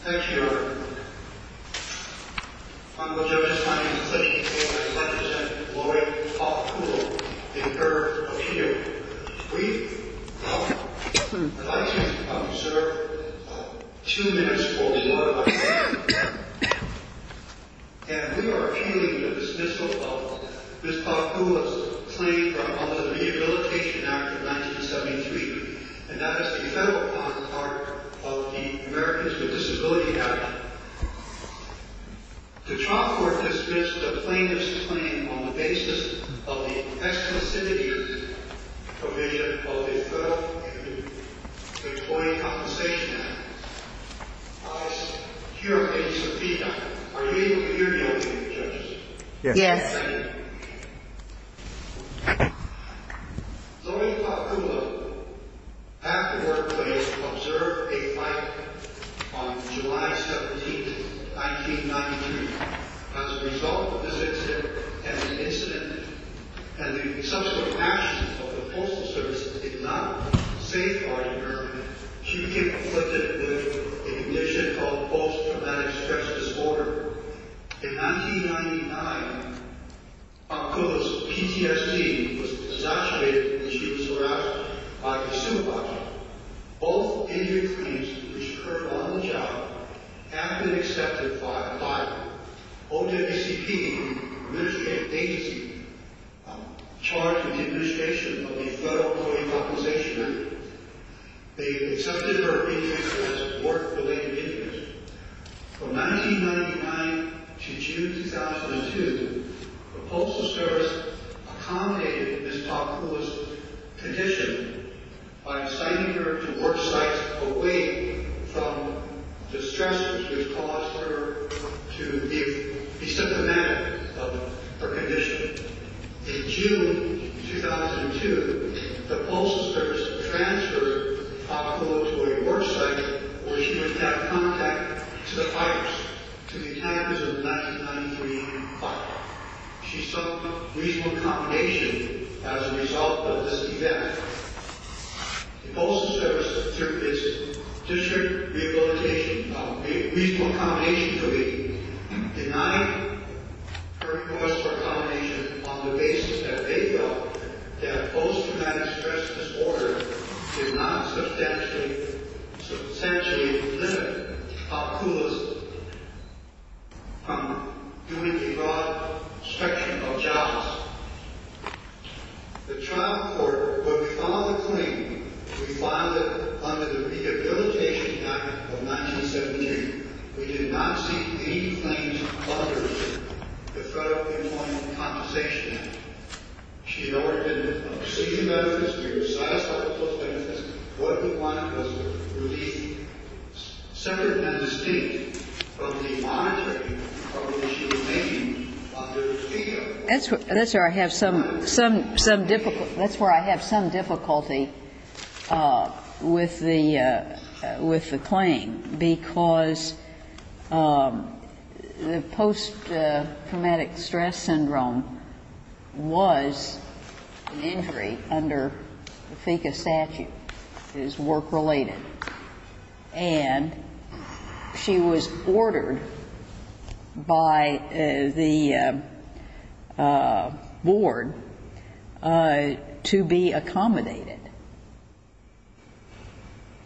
Thank you, Your Honor. I'm going to just sign this plea and I'd like to present Lori Paakula in her opinion. We've, uh, the licensee, um, sir, uh, two minutes will be more than enough time. And we are appealing the dismissal of Ms. Paakula's claim from under the Rehabilitation Act of 1973, and that is the federal counterpart of the Americans with Disabilities Act. The trial court has dismissed the plaintiff's claim on the basis of the exclusivity provision of the Federal Employee Compensation Act. I hereby subpoena. Are you able to hear me, Your Honor? Yes. Ms. Paakula had to work late to observe a flight on July 17, 1993. As a result of this incident, and the subsequent actions of the Postal Service did not safeguard her, she became afflicted with a condition called Post Traumatic Stress Disorder. In 1999, Paakula's PTSD was exacerbated and she was harassed by her supervisor. Both injury claims which occurred on the job have been accepted by the OJCP, the Administrative Agency, charged with the administration of the Federal Employee Compensation Act. They've accepted her claims as work-related injuries. From 1999 to June 2002, the Postal Service accommodated Ms. Paakula's condition by assigning her to work sites away from distresses which caused her to be symptomatic of her condition. In June 2002, the Postal Service transferred Paakula to a work site where she would have contact to the fighters, to the accountants of the 1993 fight. She sought reasonable accommodation as a result of this event. The Postal Service, through its district rehabilitation, reasonable accommodation to be, denied her cause for accommodation on the basis that they felt that Post Traumatic Stress Disorder did not substantially limit Paakula's doing a broad spectrum of jobs. The trial court, when we filed the claim, we filed it under the Rehabilitation Act of 1972. We did not see any claims under the Federal Employee Compensation Act. She no longer had any procedure benefits. We were satisfied with those benefits. What we wanted was a relief. Senator Henderson, from the monitoring of what she was named under FEDA. That's where I have some difficulty with the claim, because the post-traumatic stress syndrome was an injury under the FECA statute. It is work-related. And she was ordered by the board to be accommodated.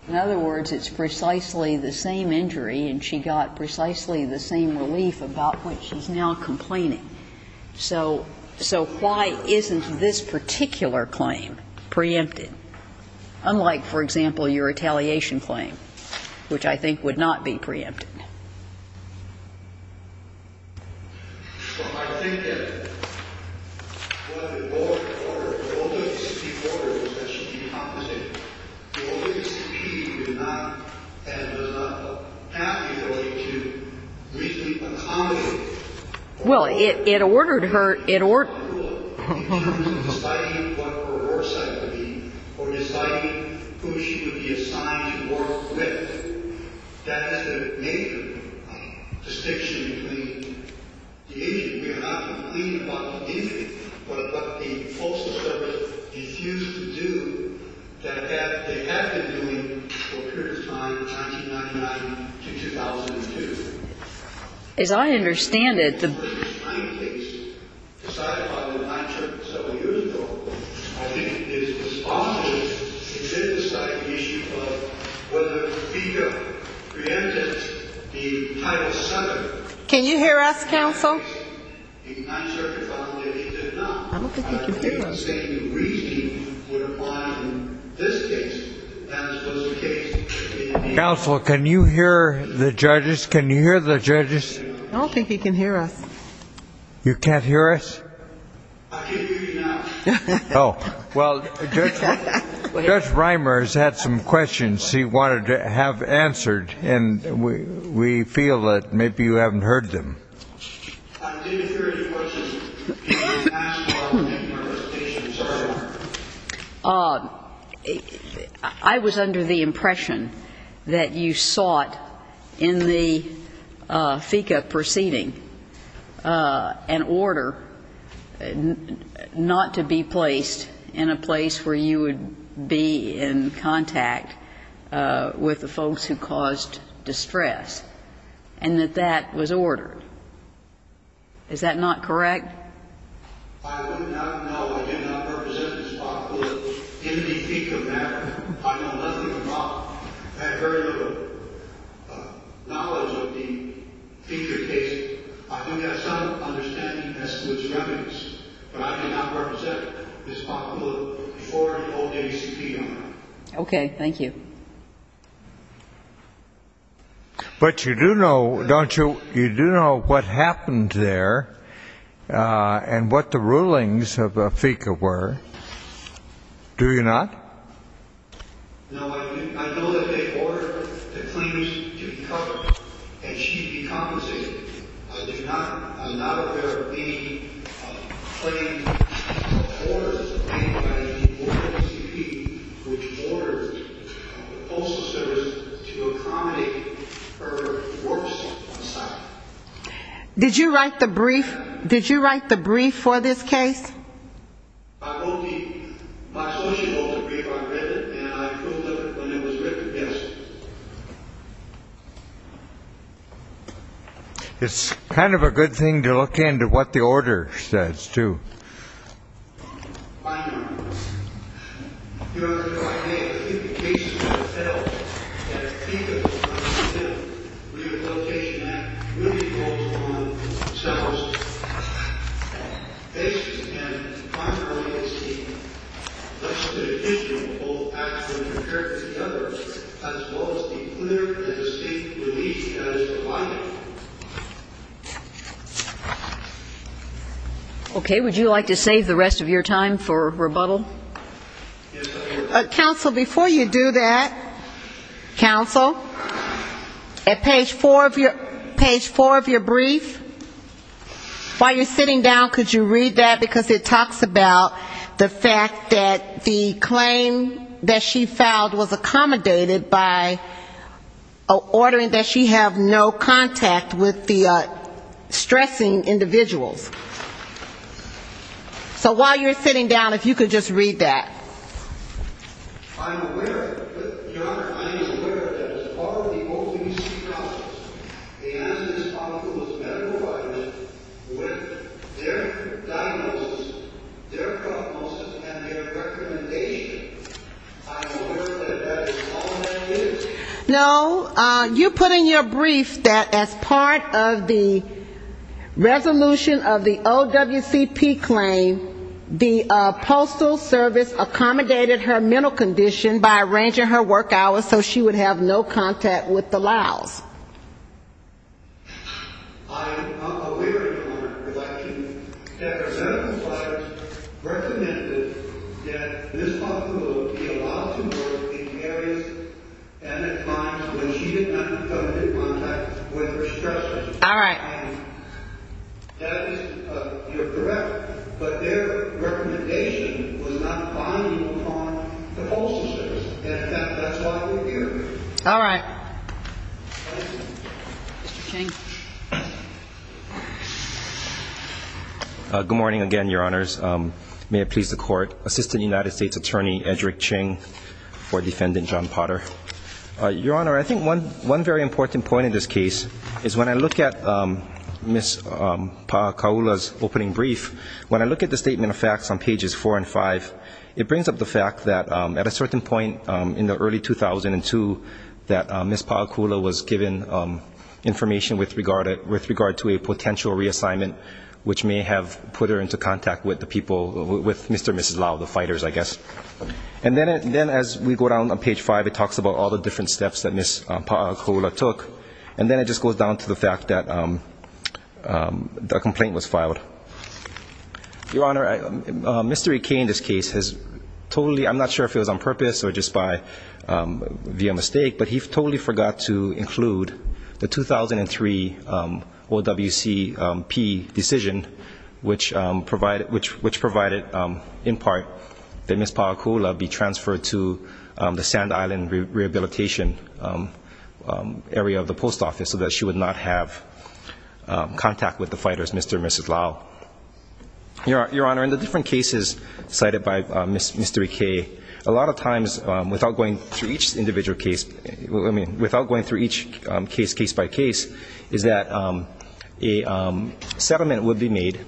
In other words, it's precisely the same injury, and she got precisely the same relief about which she's now complaining. So why isn't this particular claim preempted? Unlike, for example, your retaliation claim, which I think would not be preempted. Well, it ordered her to be accommodated. As I understand it, the person is trying to decide whether or not she's going to be accommodated. That's the major distinction between the issue. We are not complaining about the injury, but what the Postal Service refused to do that they have been doing for a period of time, 1999 to 2002. As I understand it, the person is trying to decide whether or not she's going to be accommodated. I think it's possible to synthesize the issue of whether FEDA preempted the title subject. Can you hear us, counsel? The Ninth Circuit found that it did not. I don't think you can hear us. They were saying the reasoning would apply in this case. That was the case. Counsel, can you hear the judges? I don't think he can hear us. You can't hear us? I can't hear you now. Oh. Well, Judge Reimer has had some questions he wanted to have answered, and we feel that maybe you haven't heard them. I didn't hear your question. Can I ask one thing? I was under the impression that you sought in the FECA proceeding an order not to be placed in a place where you would be in contact with the folks who caused distress, and that that was ordered. Is that not correct? I would not know. I did not represent Ms. Bock-Bullitt in the FECA matter. I don't know nothing about it. I have very little knowledge of the future case. I think I have some understanding as to its remedies, but I did not represent Ms. Bock-Bullitt before the OACP. Okay. Thank you. But you do know, don't you? You do know what happened there. And what the rulings of the FECA were. Do you not? No, I know that they ordered the claims to be covered, and she decompensated. I do not. I'm not aware of any claims or orders of any kind from the OACP which ordered the Postal Service to accommodate her works on site. Did you write the brief? Did you write the brief for this case? I wrote the brief. My associate wrote the brief. I read it, and I approved of it when it was written. Yes. It's kind of a good thing to look into what the order says too. I do not. Your Honor, do I have any indication that the FEDL, that FECA, or the FEDL Rehabilitation Act really goes along with themselves? This and the primary agency listed in the history of both acts when compared to the other, as well as the clear and distinct relief that is provided. Okay. Would you like to save the rest of your time for rebuttal? Counsel, before you do that, counsel, at page four of your brief, while you're sitting down, could you read that, because it talks about the fact that the claim that she filed was in contact with the stressing individuals. So while you're sitting down, if you could just read that. I'm aware, but, Your Honor, I'm aware that it's part of the OVC process, and it's part of the medical providers with their diagnosis, their prognosis, and their recommendation. I'm aware that that is all that is. No, you put in your brief that as part of the resolution of the OWCP claim, the postal service accommodated her mental condition by arranging her work hours so she would have no contact with the LOWs. I'm aware, Your Honor, that the federal providers recommended that this when she did not come into contact with her stressors. All right. You're correct, but their recommendation was not binding upon the postal service, and that's why we're here. All right. Mr. Ching. Good morning again, Your Honors. May it please the Court, Assistant United States Attorney Edrick Ching for Defendant John Potter. Your Honor, I think one very important point in this case is when I look at Ms. Paakula's opening brief, when I look at the statement of facts on pages 4 and 5, it brings up the fact that at a certain point in the early 2002, that Ms. Paakula was given information with regard to a potential reassignment which may have put her into contact with Mr. and Mrs. LOW, the fighters, I guess. And then as we go down on page 5, it talks about all the different steps that Ms. Paakula took, and then it just goes down to the fact that a complaint was filed. Your Honor, Mr. Ikei in this case has totally, I'm not sure if it was on purpose or just via mistake, but he totally forgot to include the 2003 OWCP decision which provided in part that Ms. Paakula be transferred to the Sand Island Rehabilitation area of the post office so that she would not have contact with the fighters, Mr. and Mrs. LOW. Your Honor, in the different cases cited by Mr. Ikei, a lot of times without going through each case case-by-case is that a settlement would be made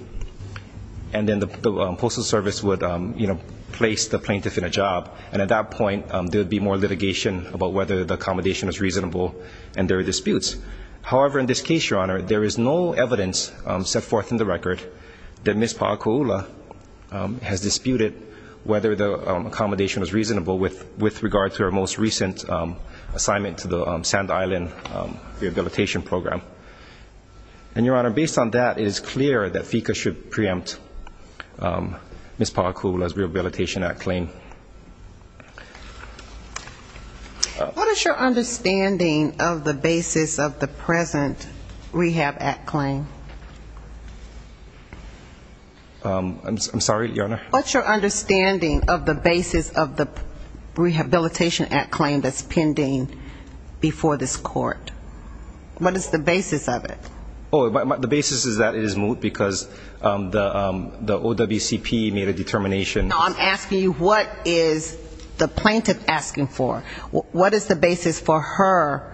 and then the Postal Service would place the plaintiff in a job, and at that point there would be more litigation about whether the accommodation was reasonable and there are disputes. However, in this case, Your Honor, there is no evidence set forth in the record that Ms. Paakula has disputed whether the accommodation was reasonable with regard to her most recent assignment to the Sand Island Rehabilitation Program. And, Your Honor, based on that, it is clear that FECA should preempt Ms. Paakula's Rehabilitation Act claim. What is your understanding of the basis of the present Rehab Act claim? I'm sorry, Your Honor? What's your understanding of the basis of the Rehabilitation Act claim that's pending before this court? What is the basis of it? Oh, the basis is that it is moot because the OWCP made a determination. No, I'm asking you what is the plaintiff asking for? What is the basis for her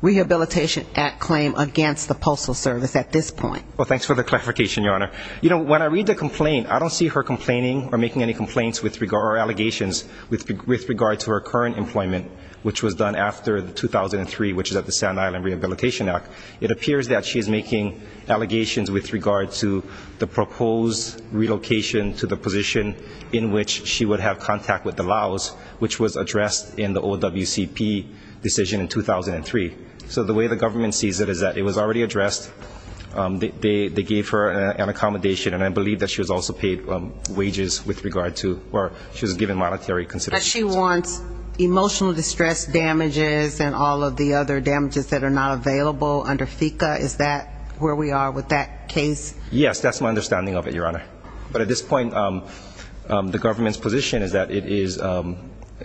Rehabilitation Act claim against the Postal Service at this point? Well, thanks for the clarification, Your Honor. You know, when I read the complaint, I don't see her complaining or making any complaints or allegations with regard to her current employment, which was done after 2003, which is at the Sand Island Rehabilitation Act. It appears that she is making allegations with regard to the proposed relocation to the position in which she would have contact with the Laos, which was addressed in the OWCP decision in 2003. So the way the government sees it is that it was already addressed. They gave her an accommodation, and I believe that she was also paid wages with regard to, or she was given monetary consideration. But she wants emotional distress damages and all of the other damages that are not available under FECA. Is that where we are with that case? Yes, that's my understanding of it, Your Honor. But at this point, the government's position is that it is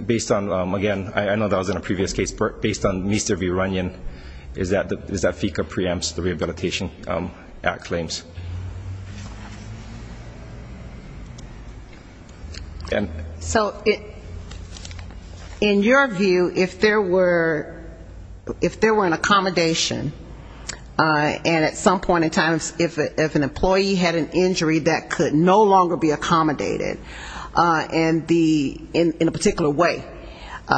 based on, again, I know that was in a previous case, but based on Mr. Viranian, is that FECA preempts the Rehabilitation Act claims. So in your view, if there were an accommodation, and at some point in time, if an employee had an injury that could no longer be accommodated in a particular way,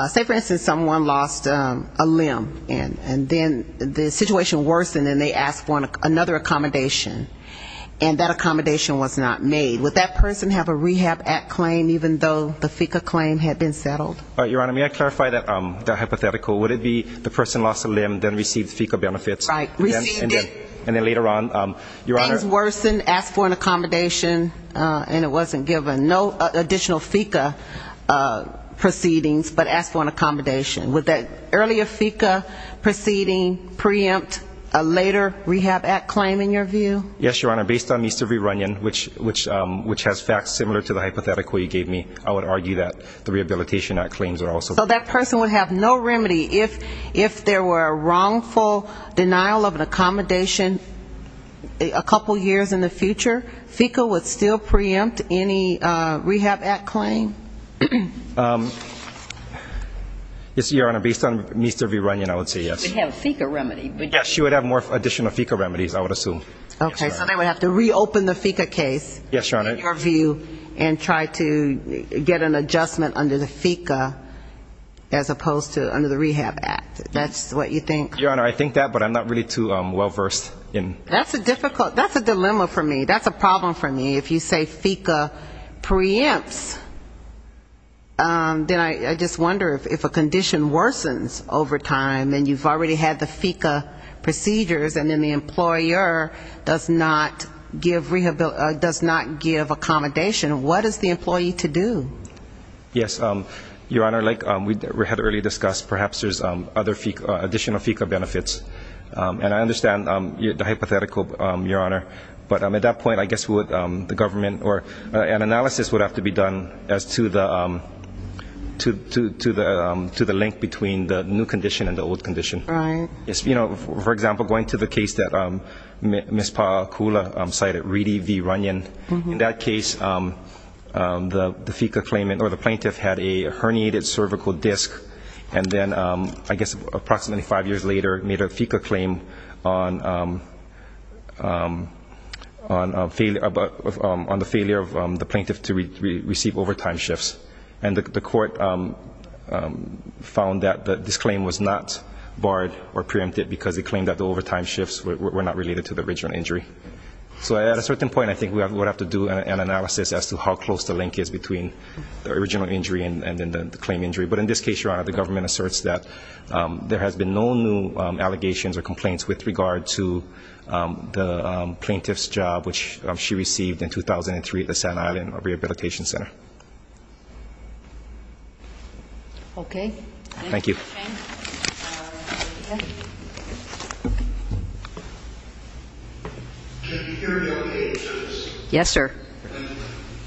say, for instance, someone lost a limb, and then the situation worsened and they asked for another accommodation, and that accommodation was not made, would that person have a Rehab Act claim, even though the FECA claim had been settled? Your Honor, may I clarify that hypothetical? Would it be the person lost a limb, then received FECA benefits, and then later on, Your Honor? Things worsened, asked for an accommodation, and it wasn't given. No additional FECA proceedings, but asked for an accommodation. Would that earlier FECA proceeding preempt a later Rehab Act claim, in your view? Yes, Your Honor, based on Mr. Viranian, which has facts similar to the hypothetical you gave me, I would argue that the Rehabilitation Act claims are also preempt. So that person would have no remedy if there were a wrongful denial of an accommodation a couple years in the future? FECA would still preempt any Rehab Act claim? Yes, Your Honor, based on Mr. Viranian, I would say yes. She would have more additional FECA remedies, I would assume. Okay, so they would have to reopen the FECA case, in your view, and try to get an adjustment under the FECA, as opposed to under the Rehab Act. That's what you think? Your Honor, I think that, but I'm not really too well-versed. That's a dilemma for me. That's a problem for me. If you say FECA preempts, then I just wonder if a condition worsens over time, and you've already had the FECA procedures, and then the employer does not give accommodation. What is the employee to do? Yes, Your Honor, like we had earlier discussed, perhaps there's additional FECA benefits. And I understand the hypothetical, Your Honor, but at that point, I guess the government, an analysis would have to be done as to the link between the new condition and the old condition. For example, going to the case that Ms. Paakula cited, Reedy v. Viranian, in that case, the plaintiff had a herniated cervical disc, and then, I guess approximately five years later, made a FECA claim on the failure of the plaintiff to receive overtime shifts. And the court found that this claim was not barred or preempted because it claimed that the overtime shifts were not related to the original injury. So at a certain point, I think we would have to do an analysis as to how close the link is between the original injury and then the claim injury. But in this case, Your Honor, the government asserts that there has been no new allegations or complaints with regard to the plaintiff's job, which she received in 2003 at the St. Island Rehabilitation Center. Can you hear me okay? Yes, sir.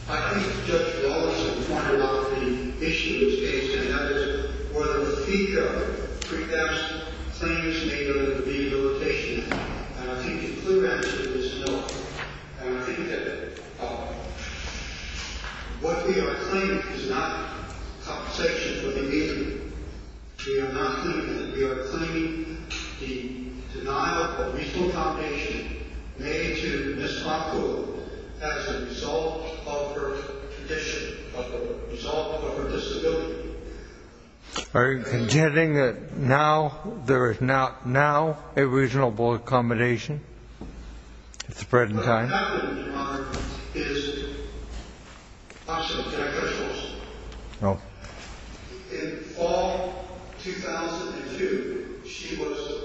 I think the judge would also be wondering about the issue in this case, and that is whether the FECA preempts claims made under rehabilitation. And I think the clear answer is no. And I think that what we are claiming is not compensation for the injury. We are not claiming that. We are claiming the denial of reasonable compensation made to Ms. Makula as a result of her condition, as a result of her disability. Are you contending that now there is not now a reasonable accommodation? It's spreading time. In fall 2002, she was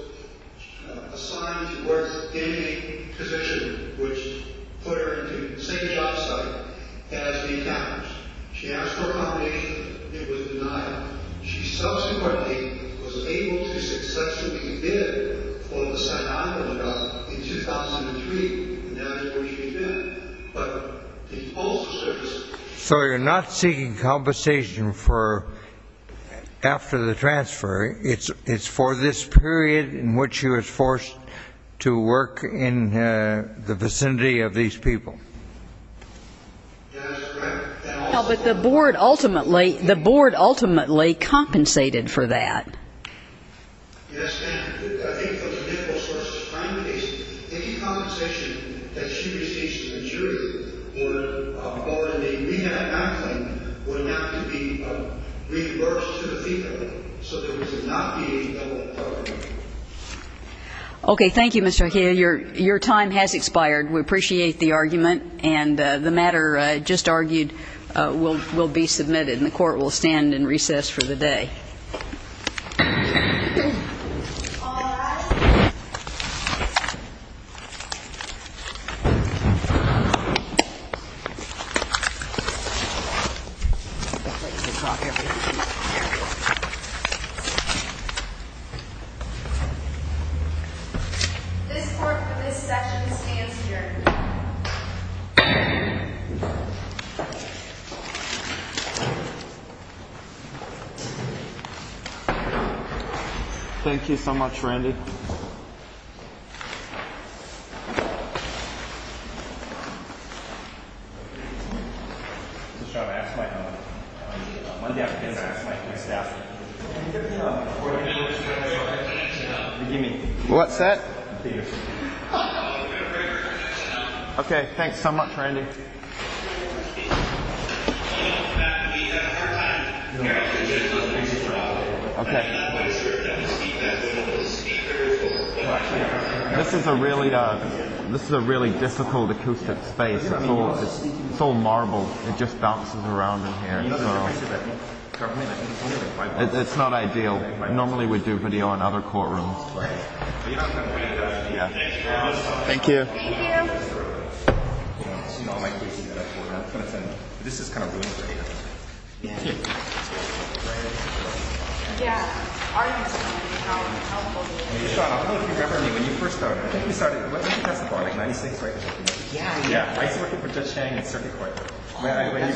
assigned to work in a position which put her into the same job site as the encounters. She asked for accommodation. It was denied. She subsequently was able to successfully bid for the St. Island Rehabilitation Center in 2003. And that's where she's been. So you're not seeking compensation after the transfer. It's for this period in which she was forced to work in the vicinity of these people. Yes, ma'am. Yes, ma'am. Okay. Thank you, Mr. O'Hara. Your time has expired. We appreciate the argument and the matter just argued will be submitted and the court will stand in recess for the day. This court for this session stands adjourned. Thank you so much, Randy. What's that? Okay, thanks so much, Randy. This is a really difficult acoustic space. It's all marble. It just bounces around in here. It's not ideal. Normally we do video in other courtrooms. Thank you.